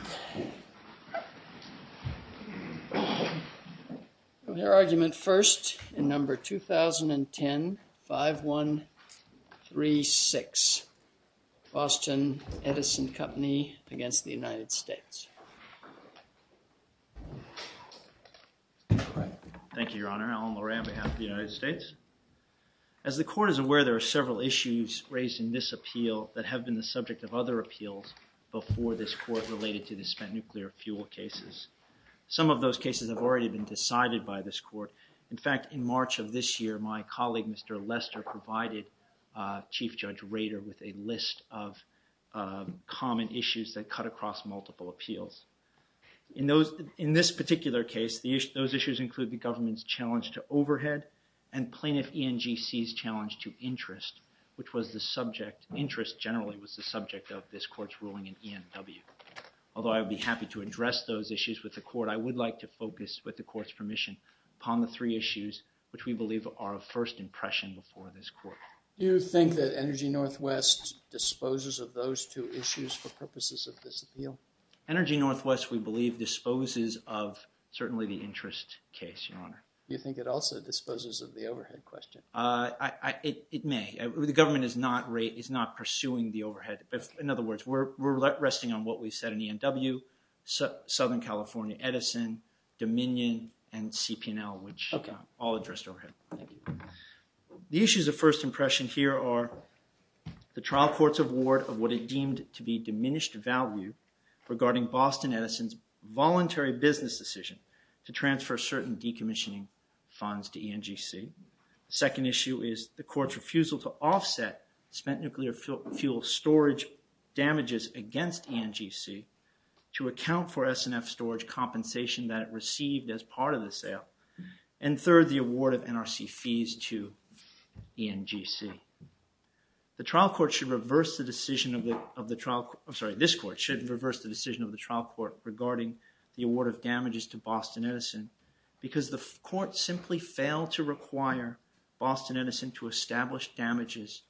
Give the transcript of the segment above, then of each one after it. Thank you, your Honor. Alan Loray on behalf of the United States. As the Court is aware, there are several issues raised in this appeal that have been the subject of other appeals before this Court related to the United States. to the spent nuclear fuel cases. Some of those cases have already been decided by this Court. In fact, in March of this year, my colleague, Mr. Lester, provided Chief Judge Rader with a list of common issues that cut across multiple appeals. In this particular case, those issues include the government's challenge to overhead and plaintiff ENGC's challenge to interest, which was the subject, interest generally was the subject of this Court's ruling in ENW. Although I would be happy to address those issues with the Court, I would like to focus, with the Court's permission, upon the three issues which we believe are of first impression before this Court. Do you think that Energy Northwest disposes of those two issues for purposes of this appeal? Energy Northwest, we believe, disposes of certainly the interest case, your Honor. Do you think it also disposes of the overhead question? It may. The government is not pursuing the overhead. In other words, we're resting on what we said in ENW, Southern California Edison, Dominion, and CPNL, which all addressed overhead. The issues of first impression here are the trial court's award of what it deemed to be diminished value regarding Boston Edison's voluntary business decision to transfer certain decommissioning funds to ENGC. The second issue is the Court's refusal to offset spent nuclear fuel storage damages against ENGC to account for S&F storage compensation that it received as part of the sale. And third, the award of NRC fees to ENGC. The trial court should reverse the decision of the trial – I'm sorry, this Court should reverse the decision of the trial court regarding the award of damages to Boston Edison because the Court simply failed to require Boston Edison to establish damages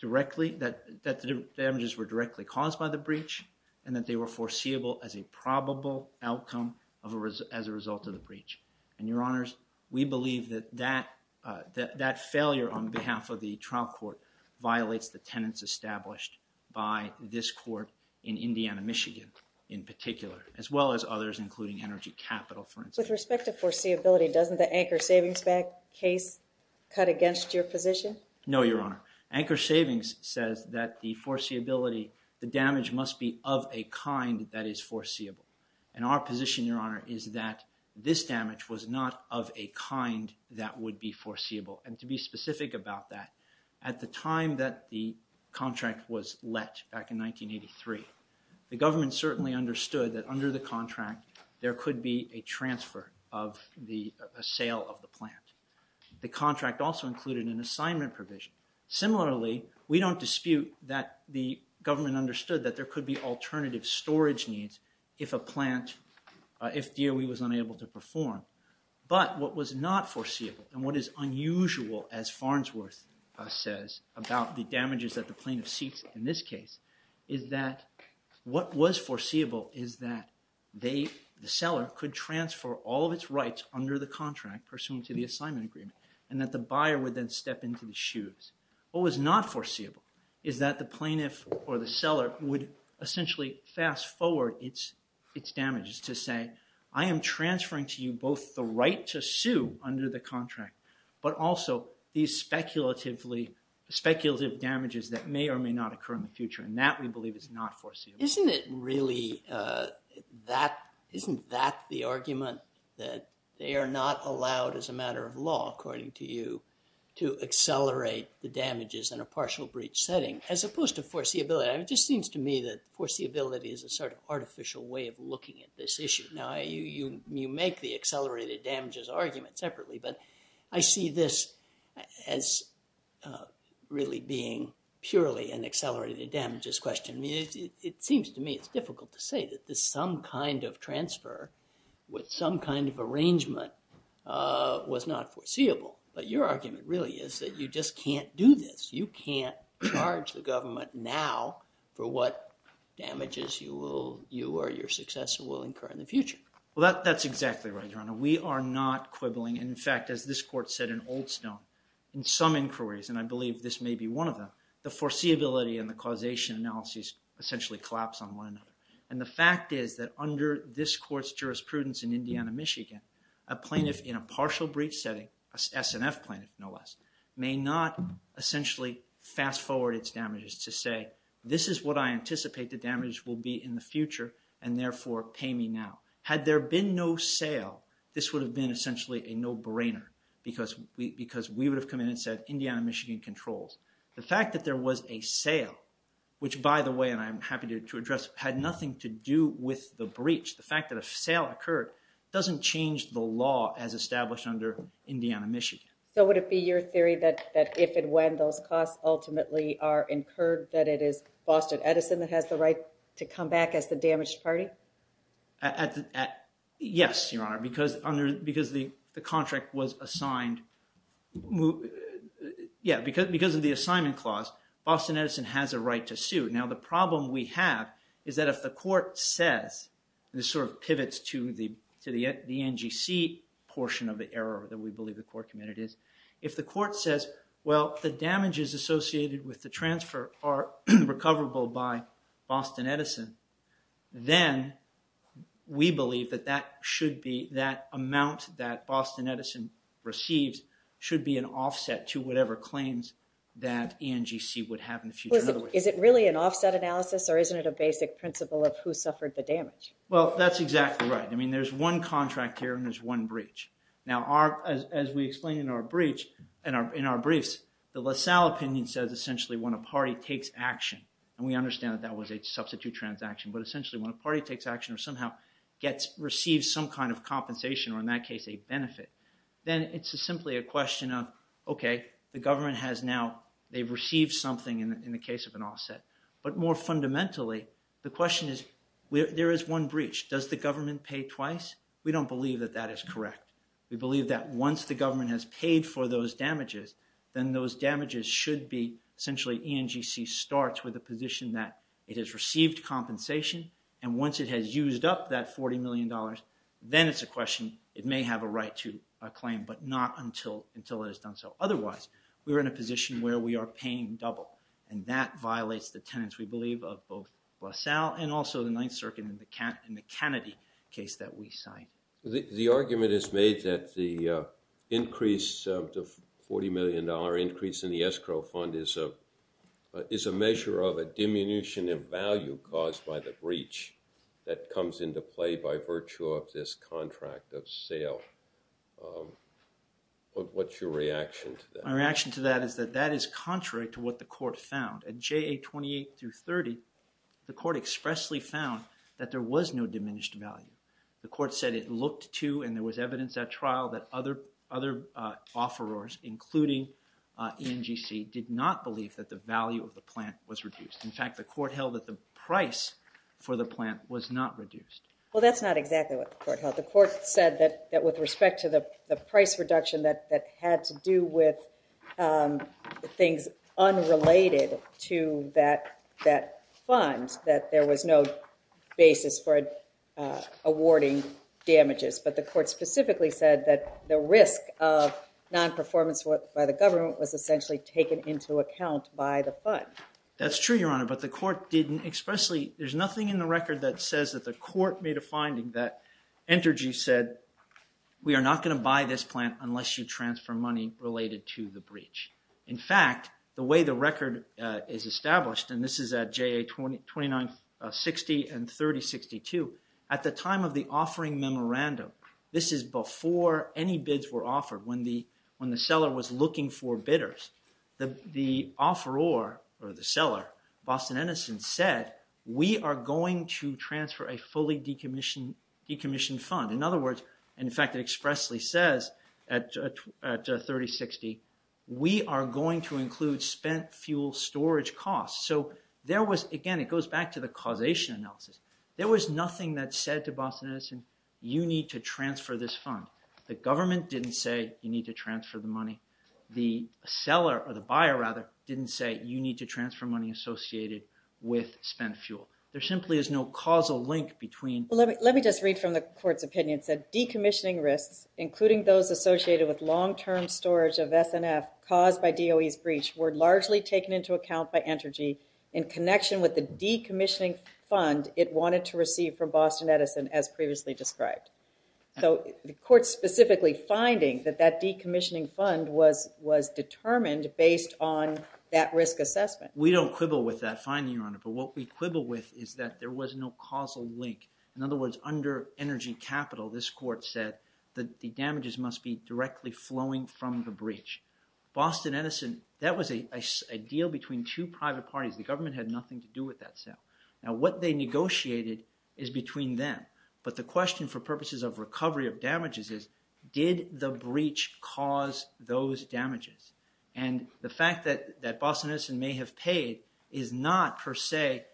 directly – that the damages were directly caused by the breach and that they were foreseeable as a probable outcome as a result of the breach. And, Your Honors, we believe that that failure on behalf of the trial court violates the tenets established by this Court in Indiana, Michigan, in particular, as well as others including Energy Capital, for instance. With respect to foreseeability, doesn't the Anchor Savings case cut against your position? No, Your Honor. Anchor Savings says that the damage must be of a kind that is foreseeable. And our position, Your Honor, is that this damage was not of a kind that would be foreseeable. And to be specific about that, at the time that the contract was let back in 1983, the government certainly understood that under the contract there could be a transfer of the – a sale of the plant. The contract also included an assignment provision. Similarly, we don't dispute that the government understood that there could be alternative storage needs if a plant – if DOE was unable to perform. But what was not foreseeable and what is unusual, as Farnsworth says about the damages that the plaintiff seeks in this case, is that what was foreseeable is that they – the seller could transfer all of its rights under the contract pursuant to the assignment agreement and that the buyer would then step into the shoes. What was not foreseeable is that the plaintiff or the seller would essentially fast-forward its damages to say, I am transferring to you both the right to sue under the contract but also these speculatively – speculative damages that may or may not occur in the future. And that we believe is not foreseeable. Isn't it really that – isn't that the argument that they are not allowed as a matter of law, according to you, to accelerate the damages in a partial breach setting as opposed to foreseeability? It just seems to me that foreseeability is a sort of artificial way of looking at this issue. Now, you make the accelerated damages argument separately, but I see this as really being purely an accelerated damages question. I mean, it seems to me it's difficult to say that some kind of transfer with some kind of arrangement was not foreseeable. But your argument really is that you just can't do this. You can't charge the government now for what damages you will – you or your successor will incur in the future. Well, that's exactly right, Your Honor. We are not quibbling. In fact, as this court said in Oldstone, in some inquiries, and I believe this may be one of them, the foreseeability and the causation analysis essentially collapse on one another. And the fact is that under this court's jurisprudence in Indiana, Michigan, a plaintiff in a partial breach setting, an SNF plaintiff no less, may not essentially fast-forward its damages to say, this is what I anticipate the damage will be in the future and therefore pay me now. Had there been no sale, this would have been essentially a no-brainer because we would have come in and said, Indiana, Michigan controls. The fact that there was a sale, which by the way, and I'm happy to address, had nothing to do with the breach. The fact that a sale occurred doesn't change the law as established under Indiana, Michigan. So would it be your theory that if and when those costs ultimately are incurred that it is Boston Edison that has the right to come back as the damaged party? Yes, Your Honor, because the contract was assigned. Yeah, because of the assignment clause, Boston Edison has a right to sue. Now the problem we have is that if the court says, and this sort of pivots to the NGC portion of the error that we believe the court committed is, if the court says, well, the damages associated with the transfer are recoverable by Boston Edison, then we believe that that amount that Boston Edison receives should be an offset to whatever claims that NGC would have in the future. Is it really an offset analysis or isn't it a basic principle of who suffered the damage? Well, that's exactly right. I mean, there's one contract here and there's one breach. Now, as we explained in our briefs, the LaSalle opinion says essentially when a party takes action, and we understand that that was a substitute transaction, but essentially when a party takes action or somehow receives some kind of compensation or in that case a benefit, then it's simply a question of, okay, the government has now received something in the case of an offset. But more fundamentally, the question is, there is one breach. Does the government pay twice? We don't believe that that is correct. We believe that once the government has paid for those damages, then those damages should be essentially NGC starts with a position that it has received compensation, and once it has used up that $40 million, then it's a question, it may have a right to a claim, but not until it has done so. Otherwise, we're in a position where we are paying double, and that violates the tenets, we believe, of both LaSalle and also the Ninth Circuit in the Kennedy case that we signed. The argument is made that the $40 million increase in the escrow fund is a measure of a diminution in value caused by the breach that comes into play by virtue of this contract of sale. What's your reaction to that? My reaction to that is that that is contrary to what the court found. At JA-28-30, the court expressly found that there was no diminished value. The court said it looked to and there was evidence at trial that other offerors, including ENGC, did not believe that the value of the plant was reduced. In fact, the court held that the price for the plant was not reduced. Well, that's not exactly what the court held. The court said that with respect to the price reduction that had to do with things unrelated to that fund, that there was no basis for awarding damages. But the court specifically said that the risk of non-performance by the government was essentially taken into account by the fund. That's true, Your Honor, but the court didn't expressly—there's nothing in the record that says that the court made a finding that Entergy said, we are not going to buy this plant unless you transfer money related to the breach. In fact, the way the record is established, and this is at JA-29-60 and 30-62, at the time of the offering memorandum, this is before any bids were offered, when the seller was looking for bidders. The offeror or the seller, Boston Edison, said, we are going to transfer a fully decommissioned fund. In other words, in fact, it expressly says at 30-60, we are going to include spent fuel storage costs. So there was—again, it goes back to the causation analysis. There was nothing that said to Boston Edison, you need to transfer this fund. The government didn't say, you need to transfer the money. The seller, or the buyer, rather, didn't say, you need to transfer money associated with spent fuel. There simply is no causal link between— in connection with the decommissioning fund it wanted to receive from Boston Edison, as previously described. So the court specifically finding that that decommissioning fund was determined based on that risk assessment. We don't quibble with that finding, Your Honor, but what we quibble with is that there was no causal link. In other words, under energy capital, this court said that the damages must be directly flowing from the breach. Boston Edison, that was a deal between two private parties. The government had nothing to do with that sale. Now what they negotiated is between them, but the question for purposes of recovery of damages is, did the breach cause those damages? And the fact that Boston Edison may have paid is not, per se,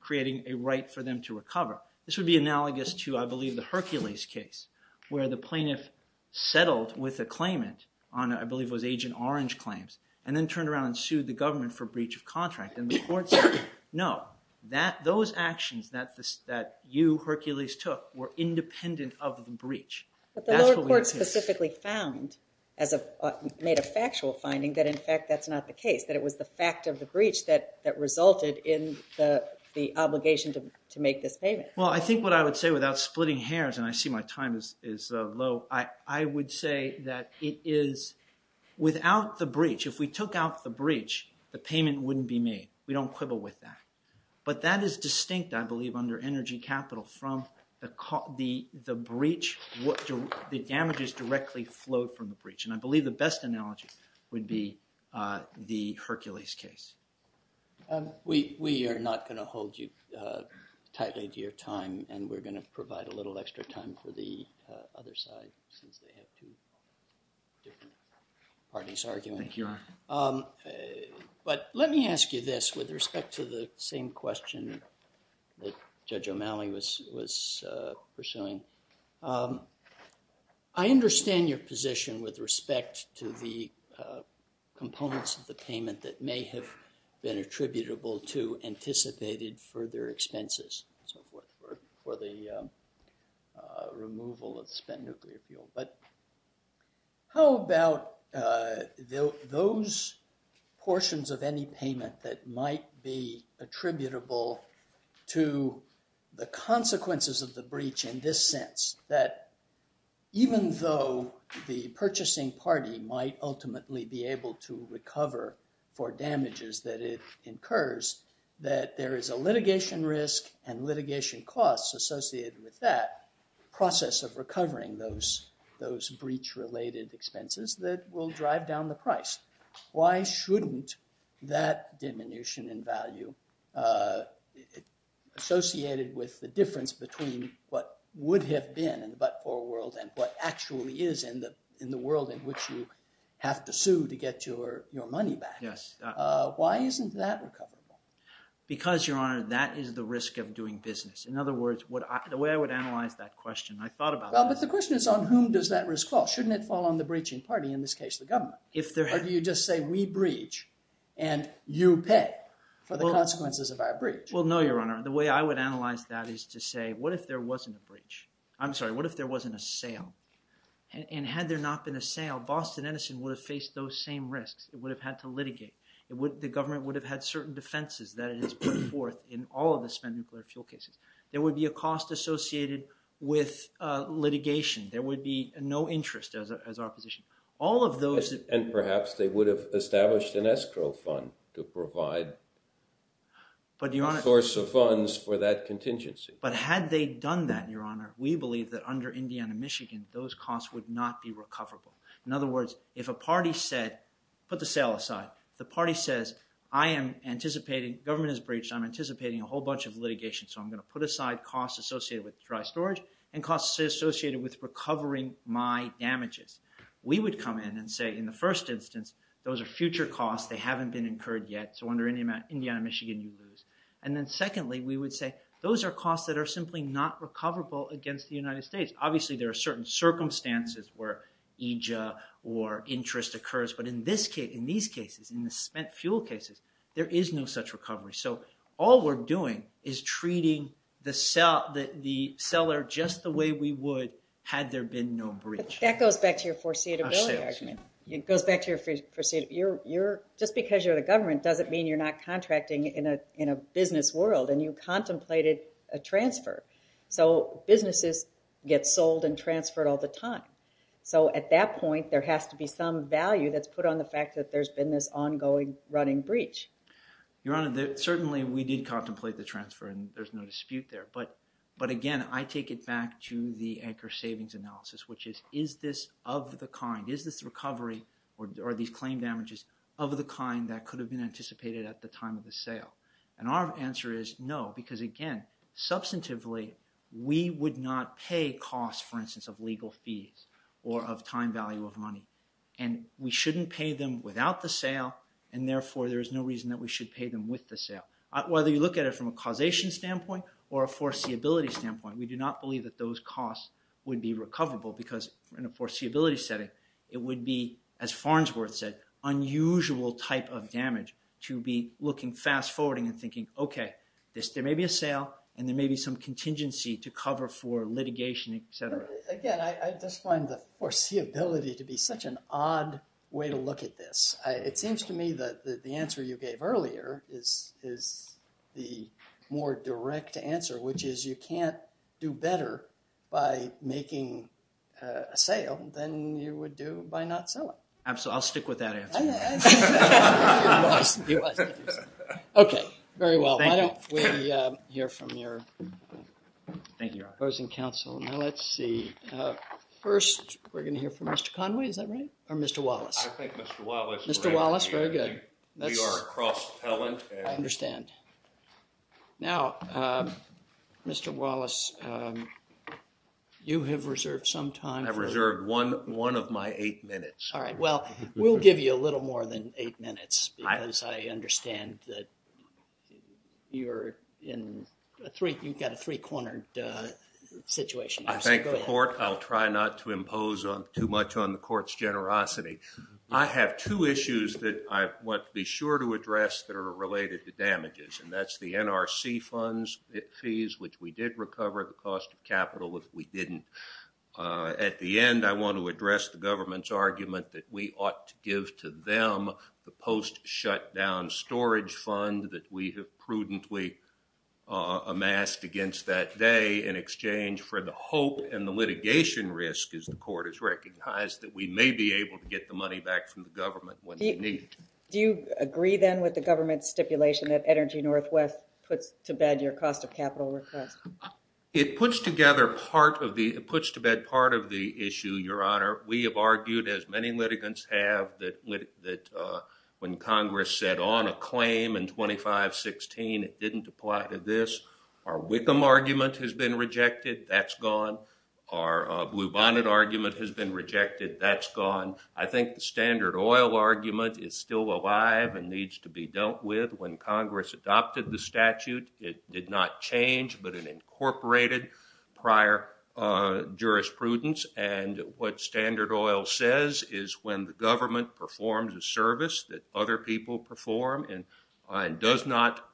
creating a right for them to recover. This would be analogous to, I believe, the Hercules case, where the plaintiff settled with a claimant on, I believe it was Agent Orange claims, and then turned around and sued the government for breach of contract. And the court said, no, those actions that you, Hercules, took were independent of the breach. But the lower court specifically found, made a factual finding, that in fact that's not the case. That it was the fact of the breach that resulted in the obligation to make this payment. Well, I think what I would say without splitting hairs, and I see my time is low, I would say that it is without the breach, if we took out the breach, the payment wouldn't be made. We don't quibble with that. But that is distinct, I believe, under energy capital from the breach, the damages directly flowed from the breach. And I believe the best analogy would be the Hercules case. We are not going to hold you tightly to your time, and we're going to provide a little extra time for the other side, since they have two different parties arguing. Thank you. But let me ask you this with respect to the same question that Judge O'Malley was pursuing. I understand your position with respect to the components of the payment that may have been attributable to anticipated further expenses for the removal of spent nuclear fuel. But how about those portions of any payment that might be attributable to the consequences of the breach in this sense? That even though the purchasing party might ultimately be able to recover for damages that it incurs, that there is a litigation risk and litigation costs associated with that process of recovering those breach-related expenses that will drive down the price. Why shouldn't that diminution in value associated with the difference between what would have been in the but-for world and what actually is in the world in which you have to sue to get your money back, why isn't that recoverable? Because, Your Honor, that is the risk of doing business. In other words, the way I would analyze that question, I thought about it. Well, but the question is on whom does that risk fall? Shouldn't it fall on the breaching party, in this case the government? Or do you just say we breach and you pay for the consequences of our breach? Well, no, Your Honor. The way I would analyze that is to say, what if there wasn't a breach? I'm sorry, what if there wasn't a sale? And had there not been a sale, Boston Edison would have faced those same risks. It would have had to litigate. The government would have had certain defenses that it has put forth in all of the spent nuclear fuel cases. There would be a cost associated with litigation. There would be no interest as our position. And perhaps they would have established an escrow fund to provide a source of funds for that contingency. But had they done that, Your Honor, we believe that under Indiana-Michigan, those costs would not be recoverable. In other words, if a party said, put the sale aside, the party says, I am anticipating, government has breached, I'm anticipating a whole bunch of litigation, so I'm going to put aside costs associated with dry storage and costs associated with recovering my damages. We would come in and say, in the first instance, those are future costs, they haven't been incurred yet, so under Indiana-Michigan you lose. And then secondly, we would say, those are costs that are simply not recoverable against the United States. Obviously there are certain circumstances where EJA or interest occurs, but in these cases, in the spent fuel cases, there is no such recovery. So all we're doing is treating the seller just the way we would had there been no breach. That goes back to your foreseeability argument. It goes back to your foreseeability. Just because you're the government doesn't mean you're not contracting in a business world, and you contemplated a transfer. So businesses get sold and transferred all the time. So at that point, there has to be some value that's put on the fact that there's been this ongoing running breach. Your Honor, certainly we did contemplate the transfer, and there's no dispute there. But again, I take it back to the anchor savings analysis, which is, is this of the kind? Is this recovery, or these claim damages, of the kind that could have been anticipated at the time of the sale? And our answer is no, because again, substantively, we would not pay costs, for instance, of legal fees or of time value of money. And we shouldn't pay them without the sale, and therefore there's no reason that we should pay them with the sale. Whether you look at it from a causation standpoint or a foreseeability standpoint, we do not believe that those costs would be recoverable, because in a foreseeability setting, it would be, as Farnsworth said, unusual type of damage to be looking fast-forwarding and thinking, okay, there may be a sale, and there may be some contingency to cover for litigation, et cetera. Again, I just find the foreseeability to be such an odd way to look at this. It seems to me that the answer you gave earlier is the more direct answer, which is you can't do better by making a sale than you would do by not selling. I'll stick with that answer. Okay, very well. Why don't we hear from your opposing counsel. Now let's see. First, we're going to hear from Mr. Conway, is that right? Or Mr. Wallace? I think Mr. Wallace. Mr. Wallace, very good. We are a cross-talent. I understand. Now, Mr. Wallace, you have reserved some time. I've reserved one of my eight minutes. All right, well, we'll give you a little more than eight minutes, because I understand that you've got a three-cornered situation. I thank the court. I'll try not to impose too much on the court's generosity. I have two issues that I want to be sure to address that are related to damages, and that's the NRC funds, the fees, which we did recover, the cost of capital, which we didn't. At the end, I want to address the government's argument that we ought to give to them the post-shutdown storage fund that we have prudently amassed against that day in exchange for the hope and the litigation risk, as the court has recognized, that we may be able to get the money back from the government when we need it. Do you agree, then, with the government's stipulation that Energy Northwest puts to bed your cost of capital request? It puts to bed part of the issue, Your Honor. We have argued, as many litigants have, that when Congress set on a claim in 2516, it didn't apply to this. Our Wickham argument has been rejected. That's gone. Our Blue Bonnet argument has been rejected. That's gone. I think the Standard Oil argument is still alive and needs to be dealt with. When Congress adopted the statute, it did not change, but it incorporated prior jurisprudence. What Standard Oil says is when the government performs a service that other people perform and does not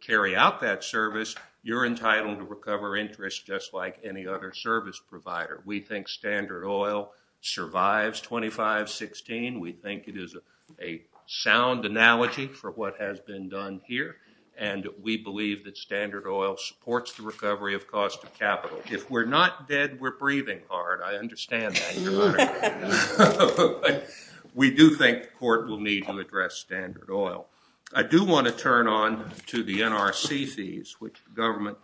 carry out that service, you're entitled to recover interest, just like any other service provider. We think Standard Oil survives 2516. We think it is a sound analogy for what has been done here, and we believe that Standard Oil supports the recovery of cost of capital. If we're not dead, we're breathing hard. I understand that, Your Honor. But we do think the court will need to address Standard Oil. I do want to turn on to the NRC fees, which the government,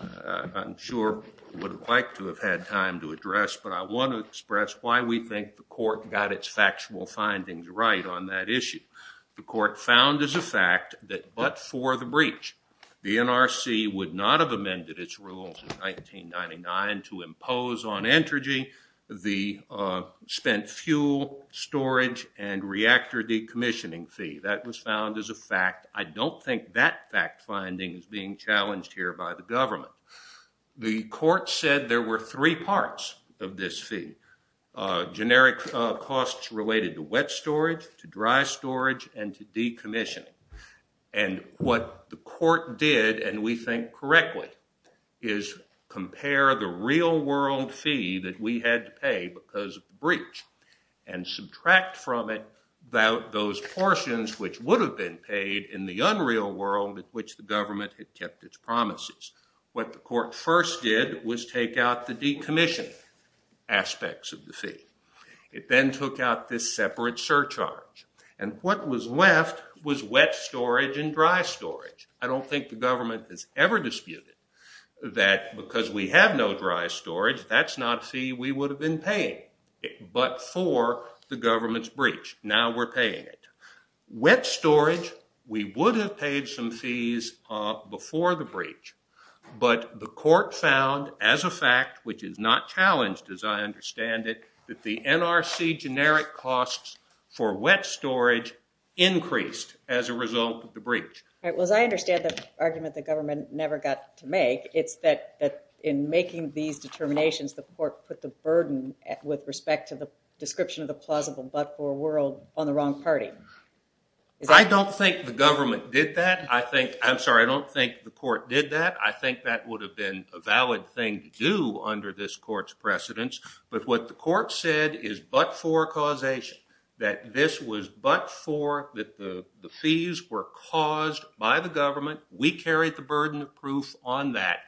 I'm sure, would have liked to have had time to address. But I want to express why we think the court got its factual findings right on that issue. The court found as a fact that but for the breach, the NRC would not have amended its rules in 1999 to impose on Entergy the spent fuel storage and reactor decommissioning fee. That was found as a fact. I don't think that fact finding is being challenged here by the government. The court said there were three parts of this fee, generic costs related to wet storage, to dry storage, and to decommissioning. And what the court did, and we think correctly, is compare the real world fee that we had to pay because of the breach, and subtract from it those portions which would have been paid in the unreal world in which the government had kept its promises. What the court first did was take out the decommissioning aspects of the fee. It then took out this separate surcharge. And what was left was wet storage and dry storage. I don't think the government has ever disputed that because we have no dry storage, that's not a fee we would have been paying but for the government's breach. Now we're paying it. Wet storage, we would have paid some fees before the breach. But the court found as a fact, which is not challenged as I understand it, that the NRC generic costs for wet storage increased as a result of the breach. As I understand the argument the government never got to make, it's that in making these determinations, the court put the burden with respect to the description of the plausible but-for world on the wrong party. I don't think the government did that. I'm sorry, I don't think the court did that. I think that would have been a valid thing to do under this court's precedence. But what the court said is but-for causation, that this was but-for, that the fees were caused by the government. We carried the burden of proof on that.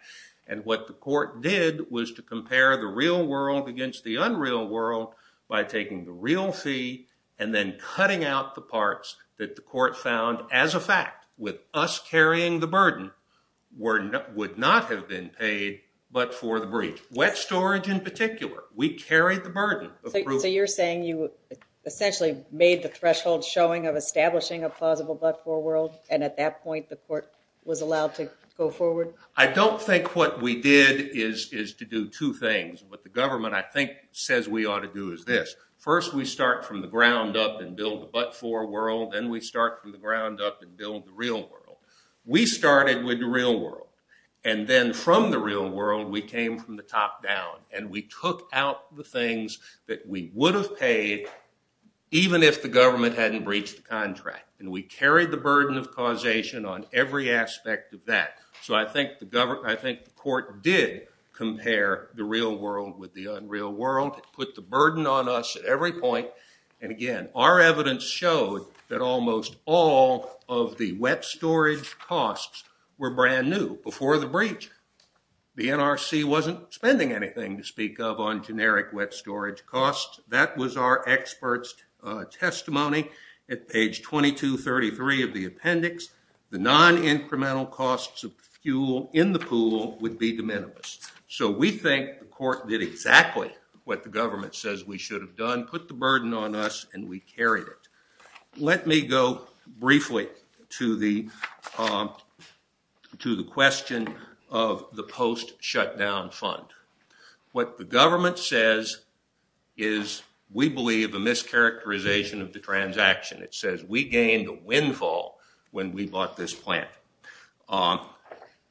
And what the court did was to compare the real world against the unreal world by taking the real fee and then cutting out the parts that the court found as a fact, with us carrying the burden, would not have been paid but for the breach. Wet storage in particular, we carried the burden of proof. So you're saying you essentially made the threshold showing of establishing a plausible but-for world, and at that point the court was allowed to go forward? I don't think what we did is to do two things. What the government, I think, says we ought to do is this. First, we start from the ground up and build the but-for world. Then we start from the ground up and build the real world. We started with the real world. And then from the real world, we came from the top down. And we took out the things that we would have paid even if the government hadn't breached the contract. And we carried the burden of causation on every aspect of that. So I think the court did compare the real world with the unreal world. It put the burden on us at every point. And again, our evidence showed that almost all of the wet storage costs were brand new before the breach. The NRC wasn't spending anything to speak of on generic wet storage costs. That was our expert's testimony at page 2233 of the appendix. The non-incremental costs of fuel in the pool would be de minimis. So we think the court did exactly what the government says we should have done, put the burden on us, and we carried it. Let me go briefly to the question of the post-shutdown fund. What the government says is, we believe, a mischaracterization of the transaction. It says, we gained a windfall when we bought this plant.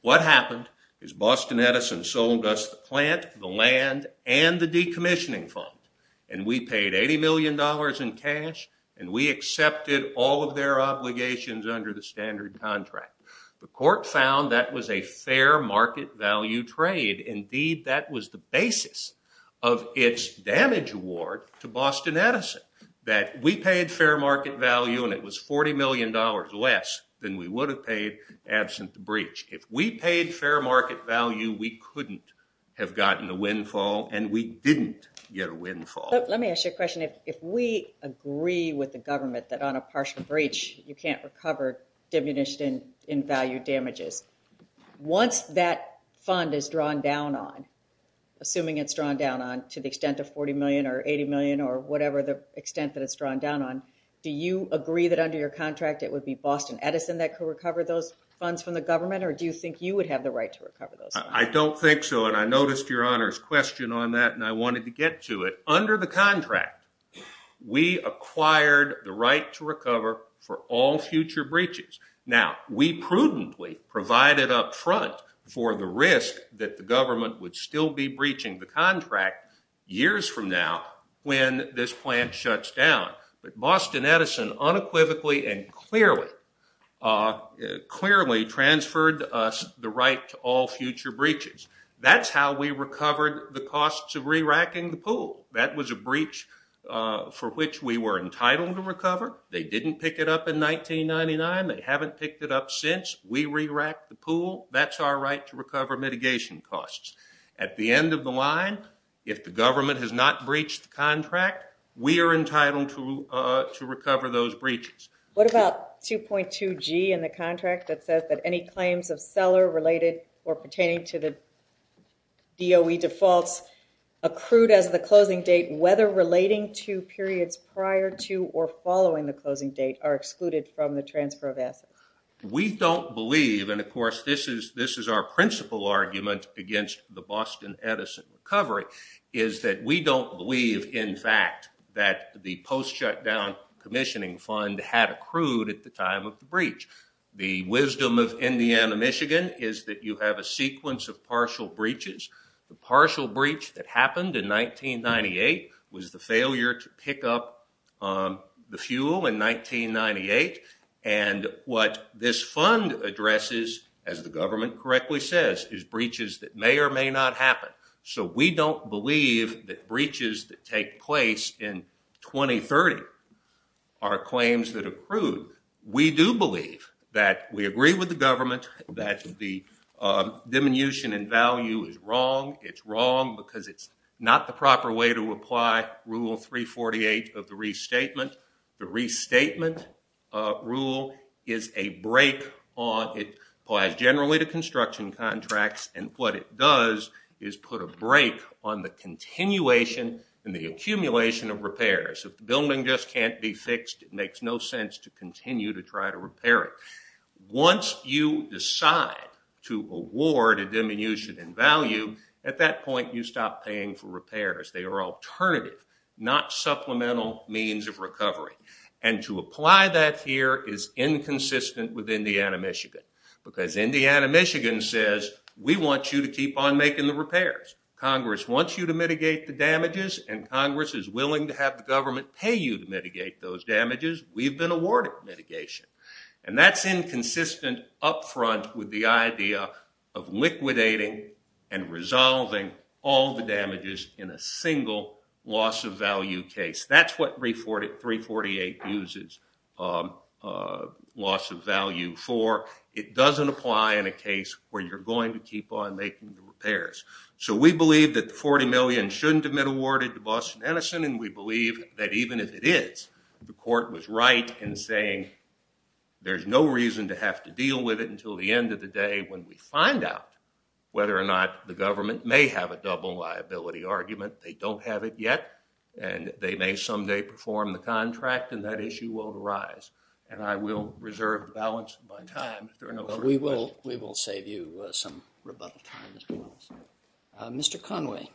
What happened is Boston Edison sold us the plant, the land, and the decommissioning fund. And we paid $80 million in cash. And we accepted all of their obligations under the standard contract. The court found that was a fair market value trade. Indeed, that was the basis of its damage award to Boston Edison. That we paid fair market value, and it was $40 million less than we would have paid absent the breach. If we paid fair market value, we couldn't have gotten a windfall, and we didn't get a windfall. Let me ask you a question. If we agree with the government that on a partial breach, you can't recover diminished in value damages, once that fund is drawn down on, assuming it's drawn down on to the extent of $40 million or $80 million or whatever the extent that it's drawn down on, do you agree that under your contract, it would be Boston Edison that could recover those funds from the government, or do you think you would have the right to recover those funds? I don't think so, and I noticed your Honor's question on that, and I wanted to get to it. Under the contract, we acquired the right to recover for all future breaches. Now, we prudently provided up front for the risk that the government would still be breaching the contract years from now when this plant shuts down, but Boston Edison unequivocally and clearly transferred us the right to all future breaches. That's how we recovered the costs of re-racking the pool. That was a breach for which we were entitled to recover. They didn't pick it up in 1999. They haven't picked it up since. We re-racked the pool. That's our right to recover mitigation costs. At the end of the line, if the government has not breached the contract, we are entitled to recover those breaches. What about 2.2G in the contract that says that any claims of seller-related or pertaining to the DOE defaults accrued as the closing date, whether relating to periods prior to or following the closing date, are excluded from the transfer of assets? We don't believe, and of course this is our principal argument against the Boston Edison recovery, is that we don't believe, in fact, that the post-shutdown commissioning fund had accrued at the time of the breach. The wisdom of Indiana, Michigan, is that you have a sequence of partial breaches. The partial breach that happened in 1998 was the failure to pick up the fuel in 1998, and what this fund addresses, as the government correctly says, is breaches that may or may not happen. So we don't believe that breaches that take place in 2030 are claims that accrued. We do believe that we agree with the government that the diminution in value is wrong. It's wrong because it's not the proper way to apply Rule 348 of the restatement. The restatement rule is a break on—it applies generally to construction contracts, and what it does is put a break on the continuation and the accumulation of repairs. If the building just can't be fixed, it makes no sense to continue to try to repair it. Once you decide to award a diminution in value, at that point you stop paying for repairs. They are alternative, not supplemental, means of recovery, and to apply that here is inconsistent with Indiana, Michigan, because Indiana, Michigan says we want you to keep on making the repairs. Congress wants you to mitigate the damages, and Congress is willing to have the government pay you to mitigate those damages. We've been awarded mitigation, and that's inconsistent up front with the idea of liquidating and resolving all the damages in a single loss of value case. That's what 348 uses loss of value for. It doesn't apply in a case where you're going to keep on making the repairs. So we believe that the $40 million shouldn't have been awarded to Boston Edison, and we believe that even if it is, the court was right in saying there's no reason to have to deal with it when we find out whether or not the government may have a double liability argument. They don't have it yet, and they may someday perform the contract, and that issue will arise, and I will reserve the balance of my time if there are no further questions. We will save you some rebuttal time as well. Mr. Conway.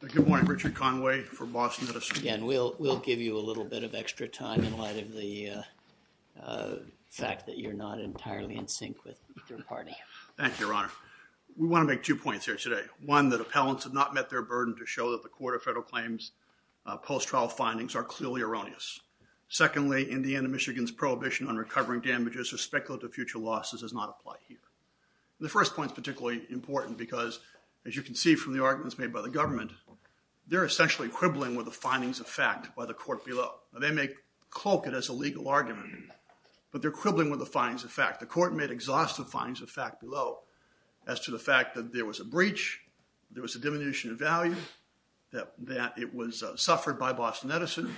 Good morning. Richard Conway for Boston Edison. Again, we'll give you a little bit of extra time in light of the fact that you're not entirely in sync with your party. Thank you, Your Honor. We want to make two points here today. One, that appellants have not met their burden to show that the court of federal claims post-trial findings are clearly erroneous. Secondly, Indiana, Michigan's prohibition on recovering damages or speculative future losses does not apply here. The first point is particularly important because, as you can see from the arguments made by the government, they're essentially quibbling with the findings of fact by the court below. They may cloak it as a legal argument, but they're quibbling with the findings of fact. The court made exhaustive findings of fact below as to the fact that there was a breach, there was a diminution of value, that it was suffered by Boston Edison,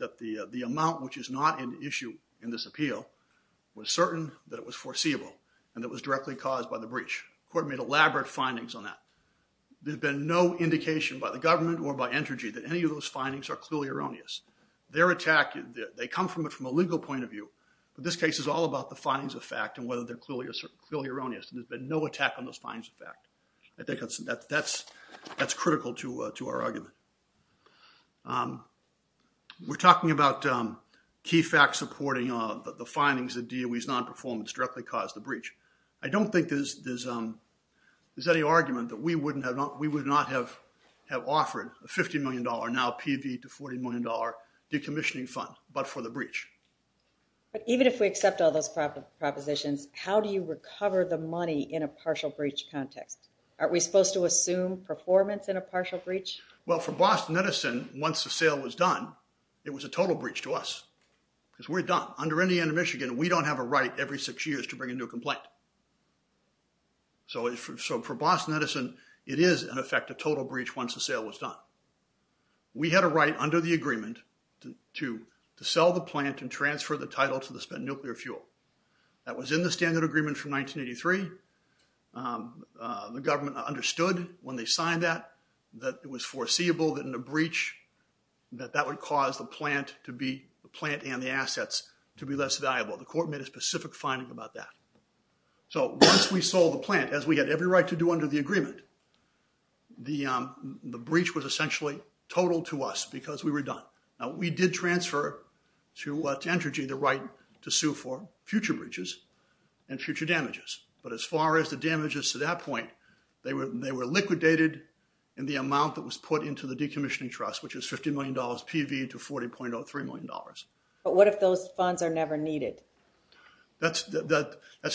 that the amount which is not an issue in this appeal was certain, that it was foreseeable, and that it was directly caused by the breach. The court made elaborate findings on that. There's been no indication by the government or by Entergy that any of those findings are clearly erroneous. Their attack, they come from a legal point of view, but this case is all about the findings of fact and whether they're clearly erroneous. There's been no attack on those findings of fact. I think that's critical to our argument. We're talking about key facts supporting the findings that DOE's nonperformance directly caused the breach. I don't think there's any argument that we would not have offered a $50 million, now PV to $40 million decommissioning fund, but for the breach. But even if we accept all those propositions, how do you recover the money in a partial breach context? Aren't we supposed to assume performance in a partial breach? Well, for Boston Edison, once the sale was done, it was a total breach to us because we're done. Under Indiana, Michigan, we don't have a right every six years to bring a new complaint. So for Boston Edison, it is, in effect, a total breach once the sale was done. We had a right under the agreement to sell the plant and transfer the title to the spent nuclear fuel. That was in the standard agreement from 1983. The government understood when they signed that, that it was foreseeable that in a breach, that that would cause the plant and the assets to be less valuable. The court made a specific finding about that. So once we sold the plant, as we had every right to do under the agreement, the breach was essentially total to us because we were done. Now, we did transfer to Entergy the right to sue for future breaches and future damages. But as far as the damages to that point, they were liquidated in the amount that was put into the decommissioning trust, which is $50 million PV to $40.03 million. But what if those funds are never needed? That's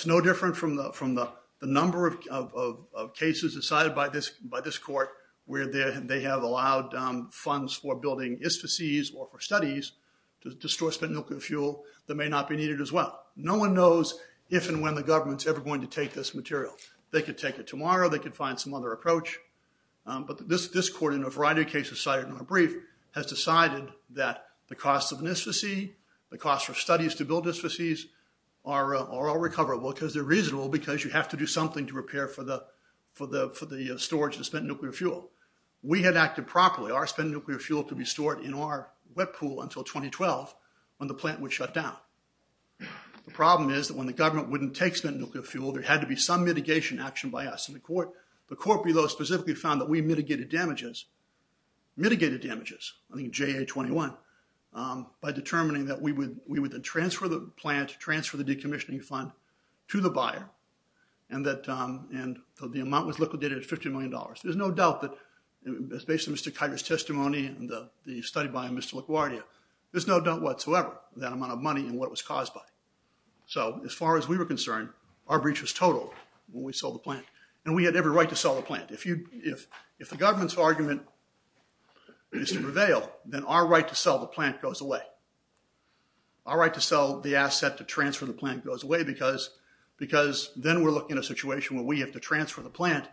no different from the number of cases decided by this court where they have allowed funds for building instances or for studies to store spent nuclear fuel that may not be needed as well. No one knows if and when the government's ever going to take this material. They could take it tomorrow. They could find some other approach. But this court, in a variety of cases cited in our brief, has decided that the cost of an instance, the cost for studies to build instances, are all recoverable because they're reasonable because you have to do something to repair for the storage of spent nuclear fuel. We had acted properly. Our spent nuclear fuel could be stored in our wet pool until 2012 when the plant would shut down. The problem is that when the government wouldn't take spent nuclear fuel, there had to be some mitigation action by us. The court below specifically found that we mitigated damages, mitigated damages, I think JA-21, by determining that we would then transfer the plant, transfer the decommissioning fund to the buyer, and that the amount was liquidated at $50 million. There's no doubt that, based on Mr. Kiger's testimony and the study by Mr. LaGuardia, there's no doubt whatsoever that amount of money and what it was caused by. So as far as we were concerned, our breach was total when we sold the plant. And we had every right to sell the plant. If the government's argument is to prevail, then our right to sell the plant goes away. Our right to sell the asset to transfer the plant goes away because then we're looking at a situation where we have to transfer the plant,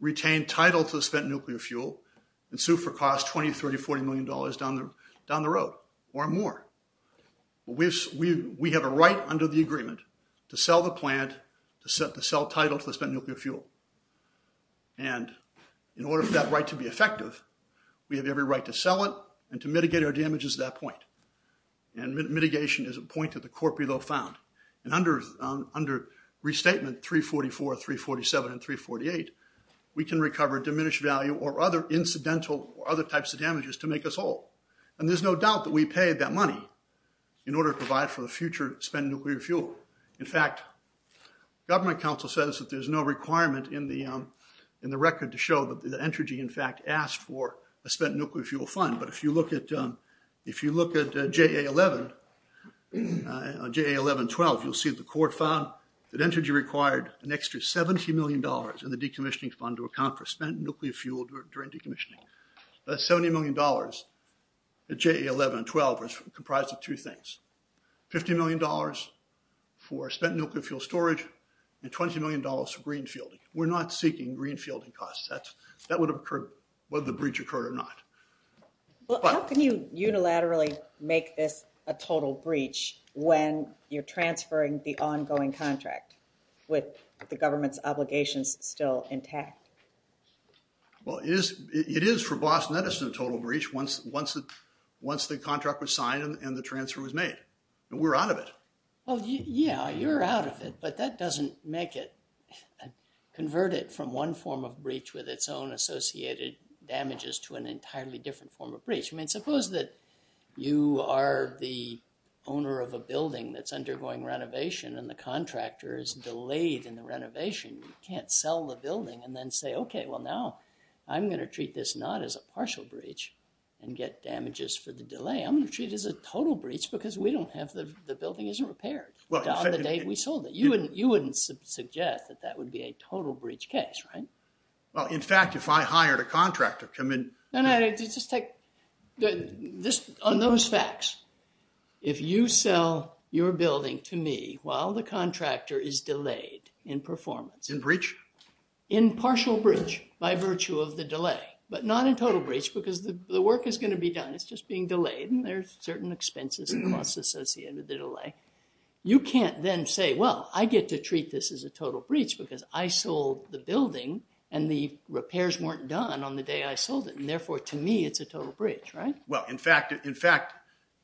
retain title to the spent nuclear fuel, and sue for cost $20, $30, $40 million down the road or more. We have a right under the agreement to sell the plant, to sell title to the spent nuclear fuel. And in order for that right to be effective, we have every right to sell it and to mitigate our damages at that point. And mitigation is a point that the court below found. And under restatement 344, 347, and 348, we can recover diminished value or other incidental or other types of damages to make us whole. And there's no doubt that we paid that money in order to provide for the future spent nuclear fuel. In fact, government counsel says that there's no requirement in the record to show that the Entrgy, in fact, asked for a spent nuclear fuel fund. But if you look at JA11, JA11-12, you'll see the court found that Entrgy required an extra $70 million in the decommissioning fund to account for spent nuclear fuel during decommissioning. That $70 million at JA11-12 was comprised of two things. $50 million for spent nuclear fuel storage and $20 million for greenfielding. We're not seeking greenfielding costs. That would have occurred whether the breach occurred or not. Well, how can you unilaterally make this a total breach when you're transferring the ongoing contract with the government's obligations still intact? Well, it is for Boston Edison a total breach once the contract was signed and the transfer was made. We're out of it. Well, yeah, you're out of it, but that doesn't make it, convert it from one form of breach with its own associated damages to an entirely different form of breach. I mean, suppose that you are the owner of a building that's undergoing renovation and the contractor is delayed in the renovation. You can't sell the building and then say, okay, well, now I'm going to treat this not as a partial breach and get damages for the delay. I'm going to treat it as a total breach because we don't have, the building isn't repaired. Down the day we sold it. You wouldn't suggest that that would be a total breach case, right? Well, in fact, if I hired a contractor to come in- No, no, just take, on those facts, if you sell your building to me while the contractor is delayed in performance- In breach? In partial breach by virtue of the delay, but not in total breach because the work is going to be done. It's just being delayed and there's certain expenses and costs associated with the delay. You can't then say, well, I get to treat this as a total breach because I sold the building and the repairs weren't done on the day I sold it, and therefore, to me, it's a total breach, right? Well, in fact,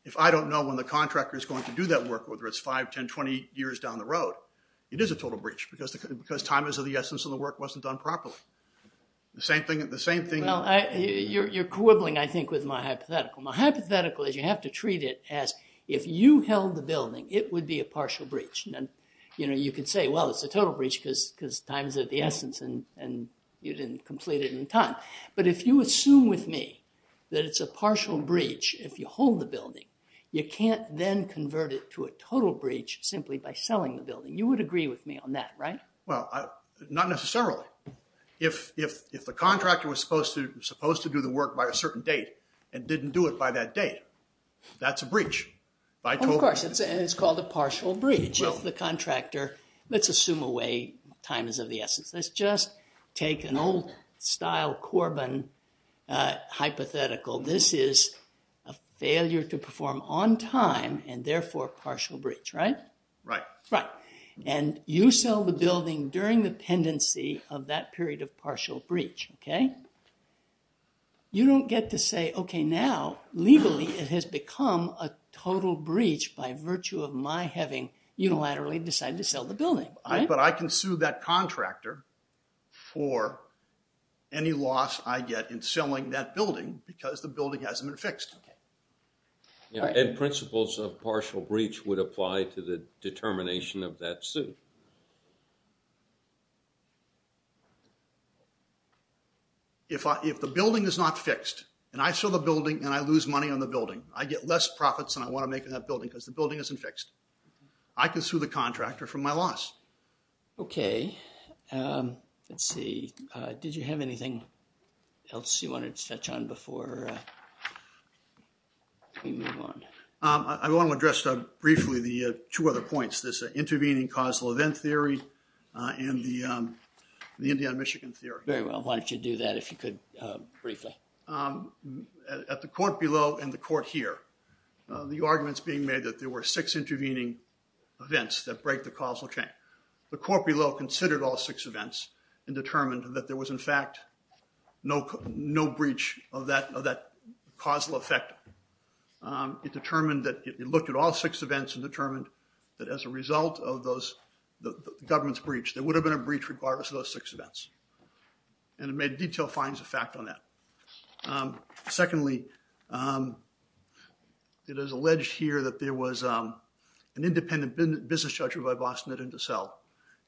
if I don't know when the contractor is going to do that work, whether it's 5, 10, 20 years down the road, it is a total breach because time is of the essence and the work wasn't done properly. The same thing- You're quibbling, I think, with my hypothetical. My hypothetical is you have to treat it as if you held the building, it would be a partial breach. You know, you could say, well, it's a total breach because time is of the essence and you didn't complete it in time. But if you assume with me that it's a partial breach if you hold the building, you can't then convert it to a total breach simply by selling the building. You would agree with me on that, right? Well, not necessarily. If the contractor was supposed to do the work by a certain date and didn't do it by that date, that's a breach. Of course, it's called a partial breach. If the contractor- Let's assume a way time is of the essence. Let's just take an old-style Corbin hypothetical. This is a failure to perform on time and therefore a partial breach, right? Right. And you sell the building during the pendency of that period of partial breach, okay? You don't get to say, okay, now legally it has become a total breach by virtue of my having unilaterally decided to sell the building, right? But I can sue that contractor for any loss I get in selling that building because the building hasn't been fixed. Okay. And principles of partial breach would apply to the determination of that suit. If the building is not fixed and I sell the building and I lose money on the building, I get less profits and I want to make in that building because the building isn't fixed. I can sue the contractor for my loss. Okay. Let's see. Did you have anything else you wanted to touch on before we move on? I want to address briefly the two other points, this intervening causal event theory and the Indiana-Michigan theory. Very well. Why don't you do that if you could briefly? At the court below and the court here, the arguments being made that there were six intervening events that break the causal chain. The court below considered all six events and determined that there was, in fact, no breach of that causal effect. It determined that it looked at all six events and determined that as a result of those, the government's breach, there would have been a breach regardless of those six events. And it made detailed findings of fact on that. Secondly, it is alleged here that there was an independent business judgment by Bossnet and DeSalle.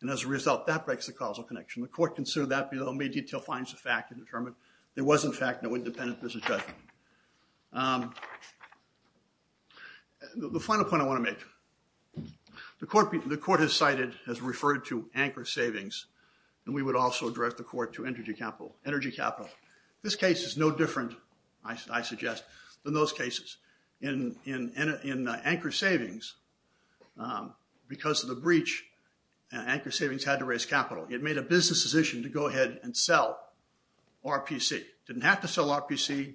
And as a result, that breaks the causal connection. The court considered that below, made detailed findings of fact and determined there was, in fact, no independent business judgment. The final point I want to make, the court has cited, has referred to anchor savings. And we would also direct the court to energy capital. This case is no different, I suggest, than those cases. In anchor savings, because of the breach, anchor savings had to raise capital. It made a business decision to go ahead and sell RPC. It didn't have to sell RPC. It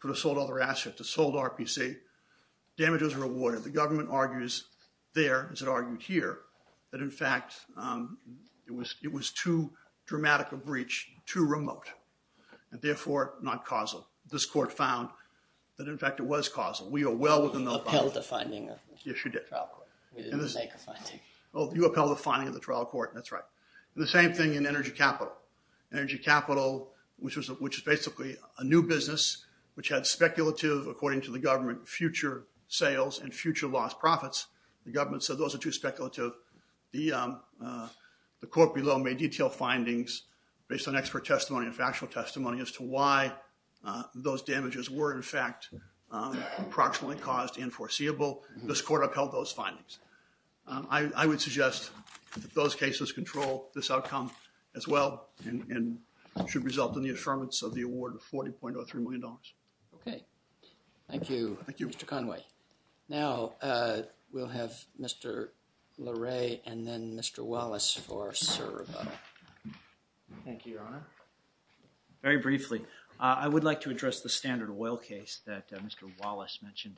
could have sold other assets. It sold RPC. Damage is rewarded. The government argues there, as it argued here, that, in fact, it was too dramatic a breach, too remote, and therefore not causal. This court found that, in fact, it was causal. We are well within the bounds. You upheld the finding of the trial court. Yes, you did. We didn't make a finding. Oh, you upheld the finding of the trial court. That's right. The same thing in energy capital. Energy capital, which is basically a new business, which had speculative, according to the government, future sales and future lost profits. The government said those are too speculative. The court below made detailed findings, based on expert testimony and factual testimony, as to why those damages were, in fact, approximately caused and foreseeable. This court upheld those findings. I would suggest that those cases control this outcome, as well, and should result in the affirmance of the award of $40.03 million. Okay. Thank you, Mr. Conway. Now, we'll have Mr. Larre and then Mr. Wallace for our survey. Thank you, Your Honor. Very briefly, I would like to address the Standard Oil case that Mr. Wallace mentioned.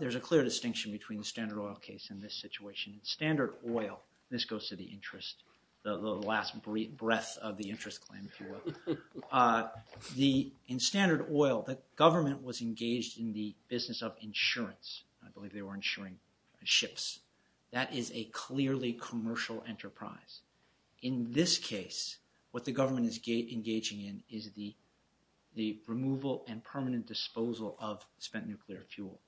There's a clear distinction between the Standard Oil case and this situation. In Standard Oil, this goes to the interest, the last breath of the interest claim, if you will. In Standard Oil, the government was engaged in the business of insurance. I believe they were insuring ships. That is a clearly commercial enterprise. In this case, what the government is engaging in is the removal and permanent disposal of spent nuclear fuel.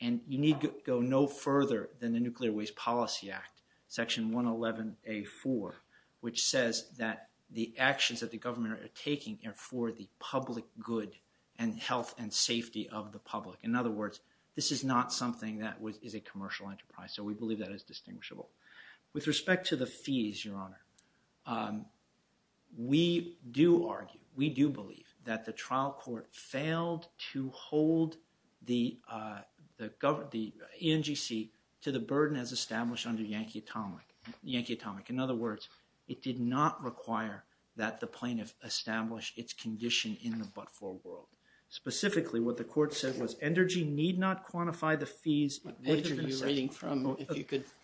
And you need to go no further than the Nuclear Waste Policy Act, Section 111A4, which says that the actions that the government are taking are for the public good and health and safety of the public. In other words, this is not something that is a commercial enterprise, so we believe that is distinguishable. With respect to the fees, Your Honor, we do argue, we do believe, that the trial court failed to hold the ENGC to the burden as established under Yankee Atomic. In other words, it did not require that the plaintiff establish its condition in the but-for world. Specifically, what the court said was ENRGY need not quantify the fees. What page are you reading from?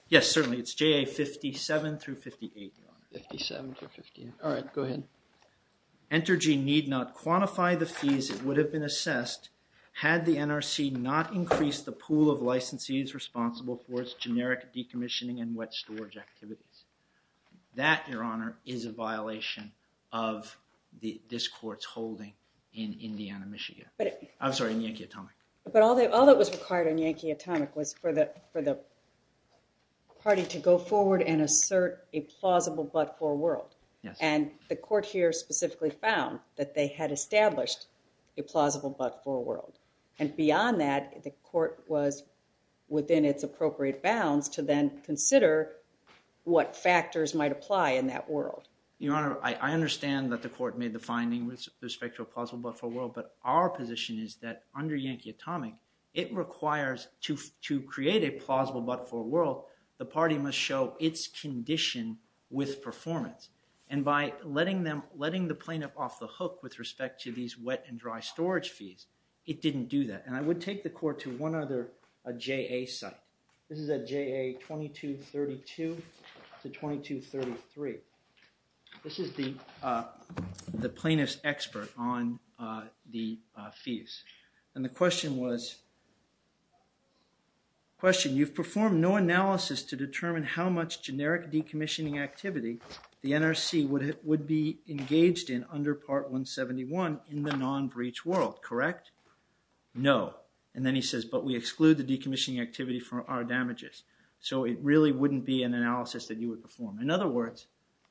Yes, certainly, it's JA57-58. 57-58. All right, go ahead. ENRGY need not quantify the fees that would have been assessed had the NRC not increased the pool of licensees responsible for its generic decommissioning and wet storage activities. That, Your Honor, is a violation of this court's holding in Indiana, Michigan. I'm sorry, in Yankee Atomic. But all that was required in Yankee Atomic was for the party to go forward and assert a plausible but-for world. And the court here specifically found that they had established a plausible but-for world. And beyond that, the court was within its appropriate bounds to then consider what factors might apply in that world. Your Honor, I understand that the court made the finding with respect to a plausible but-for world, but our position is that under Yankee Atomic, it requires to create a plausible but-for world, the party must show its condition with performance. And by letting the plaintiff off the hook with respect to these wet and dry storage fees, it didn't do that. And I would take the court to one other JA site. This is at JA 2232 to 2233. This is the plaintiff's expert on the fees. And the question was, question, you've performed no analysis to determine how much generic decommissioning activity the NRC would be engaged in under Part 171 in the non-breach world, correct? No. And then he says, but we exclude the decommissioning activity from our damages. So it really wouldn't be an analysis that you would perform. In other words,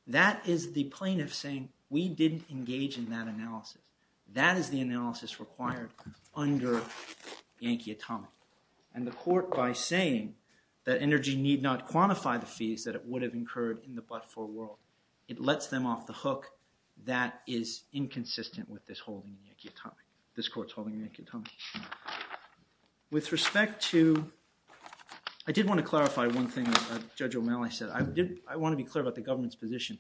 that is the plaintiff saying, we didn't engage in that analysis. That is the analysis required under Yankee Atomic. And the court, by saying that energy need not quantify the fees that it would have incurred in the but-for world, it lets them off the hook. That is inconsistent with this holding in Yankee Atomic, this court's holding in Yankee Atomic. With respect to, I did want to clarify one thing Judge O'Malley said. I want to be clear about the government's position.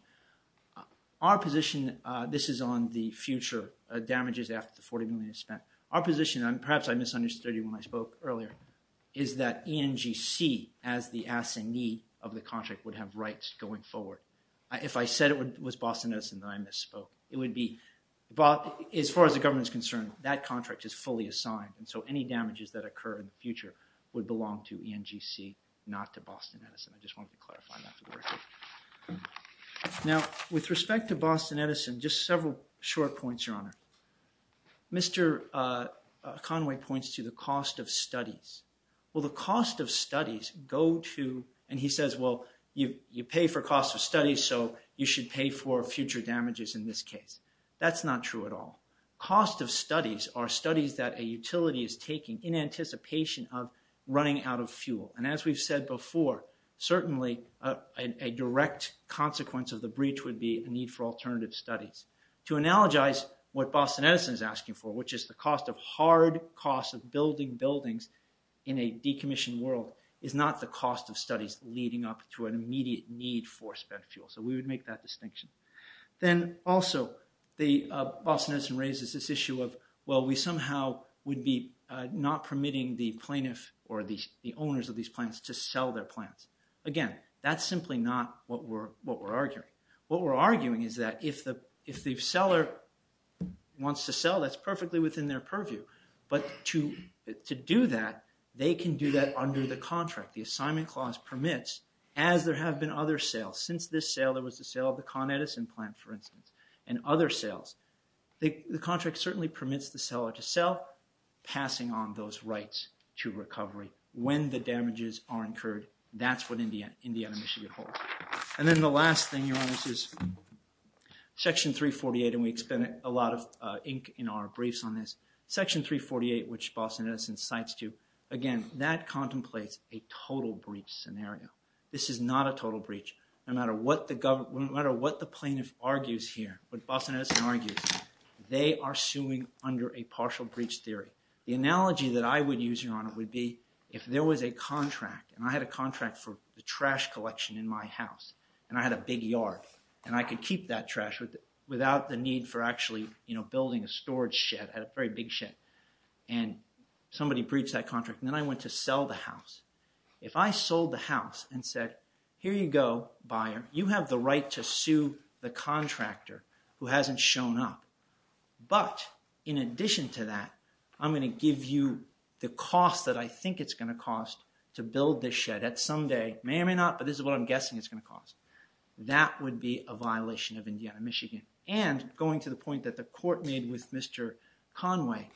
Our position, this is on the future damages after the $40 million is spent. Our position, and perhaps I misunderstood you when I spoke earlier, is that ENGC, as the assignee of the contract, would have rights going forward. If I said it was Boston Edison, then I misspoke. It would be, as far as the government is concerned, that contract is fully assigned. And so any damages that occur in the future would belong to ENGC, not to Boston Edison. I just wanted to clarify that. Now, with respect to Boston Edison, just several short points, Your Honor. Mr. Conway points to the cost of studies. Well, the cost of studies go to, and he says, well, you pay for cost of studies, so you should pay for future damages in this case. That's not true at all. Cost of studies are studies that a utility is taking in anticipation of running out of fuel. And as we've said before, certainly a direct consequence of the breach would be a need for alternative studies. To analogize what Boston Edison is asking for, which is the cost of hard cost of building buildings in a decommissioned world, is not the cost of studies leading up to an immediate need for spent fuel. So we would make that distinction. Then also, Boston Edison raises this issue of, well, we somehow would be not permitting the plaintiff or the owners of these plants to sell their plants. Again, that's simply not what we're arguing. What we're arguing is that if the seller wants to sell, that's perfectly within their purview. But to do that, they can do that under the contract. The assignment clause permits, as there have been other sales. Since this sale, there was the sale of the Con Edison plant, for instance, and other sales. The contract certainly permits the seller to sell, passing on those rights to recovery when the damages are incurred. That's what Indiana, Michigan holds. And then the last thing, Your Honor, is Section 348, and we expend a lot of ink in our briefs on this. Section 348, which Boston Edison cites, too, again, that contemplates a total breach scenario. This is not a total breach. No matter what the plaintiff argues here, what Boston Edison argues, they are suing under a partial breach theory. The analogy that I would use, Your Honor, would be if there was a contract, and I had a contract for the trash collection in my house, and I had a big yard, and I could keep that trash without the need for actually building a storage shed, a very big shed, and somebody breached that contract, and then I went to sell the house. If I sold the house and said, here you go, buyer, you have the right to sue the contractor who hasn't shown up, but in addition to that, I'm going to give you the cost that I think it's going to cost to build this shed at some day. It may or may not, but this is what I'm guessing it's going to cost. That would be a violation of Indiana, Michigan. And going to the point that the court made with Mr. Conway,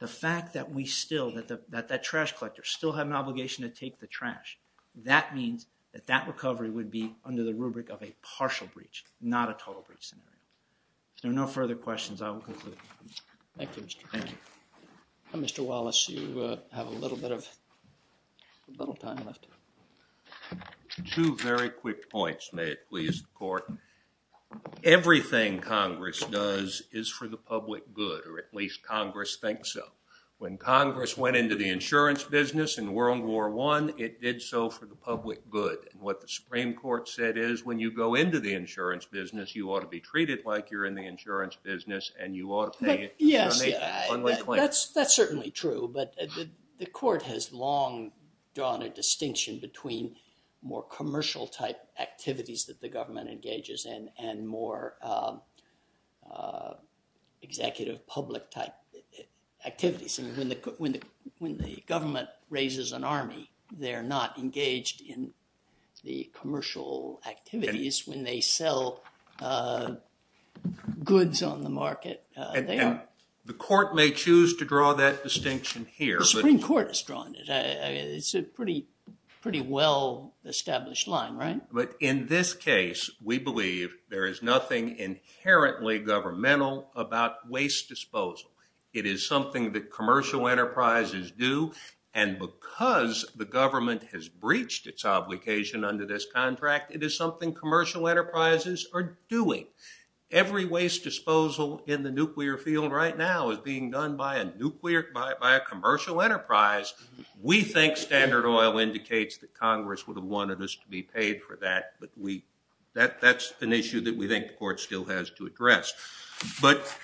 the fact that we still, that that trash collector still had an obligation to take the trash, that means that that recovery would be under the rubric of a partial breach, not a total breach scenario. If there are no further questions, I will conclude. Thank you, Mr. Cronin. Mr. Wallace, you have a little bit of time left. Two very quick points, may it please the court. Everything Congress does is for the public good, or at least Congress thinks so. When Congress went into the insurance business in World War I, it did so for the public good. What the Supreme Court said is when you go into the insurance business, you ought to be treated like you're in the insurance business and you ought to pay a donation. Yes, that's certainly true. But the court has long drawn a distinction between more commercial type activities that the government engages in and more executive public type activities. When the government raises an army, they're not engaged in the commercial activities. When they sell goods on the market, they are. The court may choose to draw that distinction here. The Supreme Court has drawn it. It's a pretty well established line, right? But in this case, we believe there is nothing inherently governmental about waste disposal. It is something that commercial enterprises do, and because the government has breached its obligation under this contract, it is something commercial enterprises are doing. Every waste disposal in the nuclear field right now is being done by a commercial enterprise. We think Standard Oil indicates that Congress would have wanted us to be paid for that, but that's an issue that we think the court still has to address. But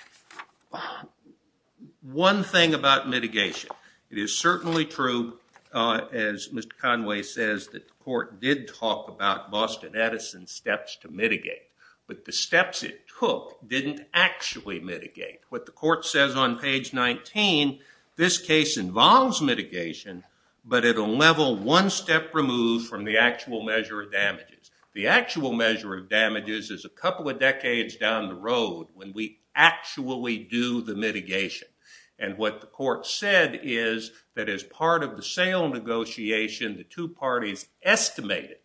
one thing about mitigation. It is certainly true, as Mr. Conway says, that the court did talk about Boston Edison's steps to mitigate, but the steps it took didn't actually mitigate. What the court says on page 19, this case involves mitigation, but at a level one step removed from the actual measure of damages. The actual measure of damages is a couple of decades down the road when we actually do the mitigation. And what the court said is that as part of the sale negotiation, the two parties estimated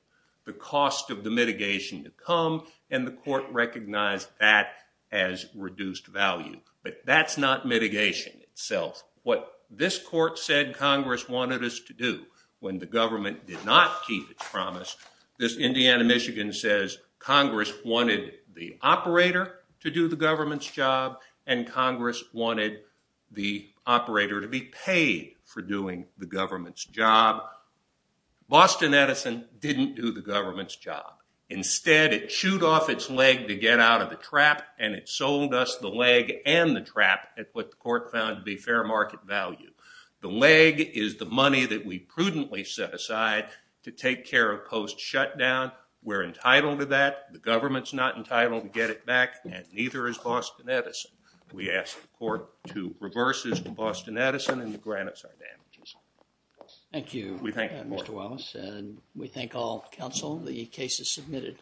the cost of the mitigation to come, and the court recognized that as reduced value. But that's not mitigation itself. What this court said Congress wanted us to do when the government did not keep its promise, this Indiana-Michigan says Congress wanted the operator to do the government's job, and Congress wanted the operator to be paid for doing the government's job. Boston Edison didn't do the government's job. Instead, it chewed off its leg to get out of the trap, and it sold us the leg and the trap at what the court found to be fair market value. The leg is the money that we prudently set aside to take care of post-shutdown. We're entitled to that. The government's not entitled to get it back, and neither is Boston Edison. We ask the court to reverse its Boston Edison and to grant us our damages. Thank you, Mr. Wallace. And we thank all counsel. The case is submitted.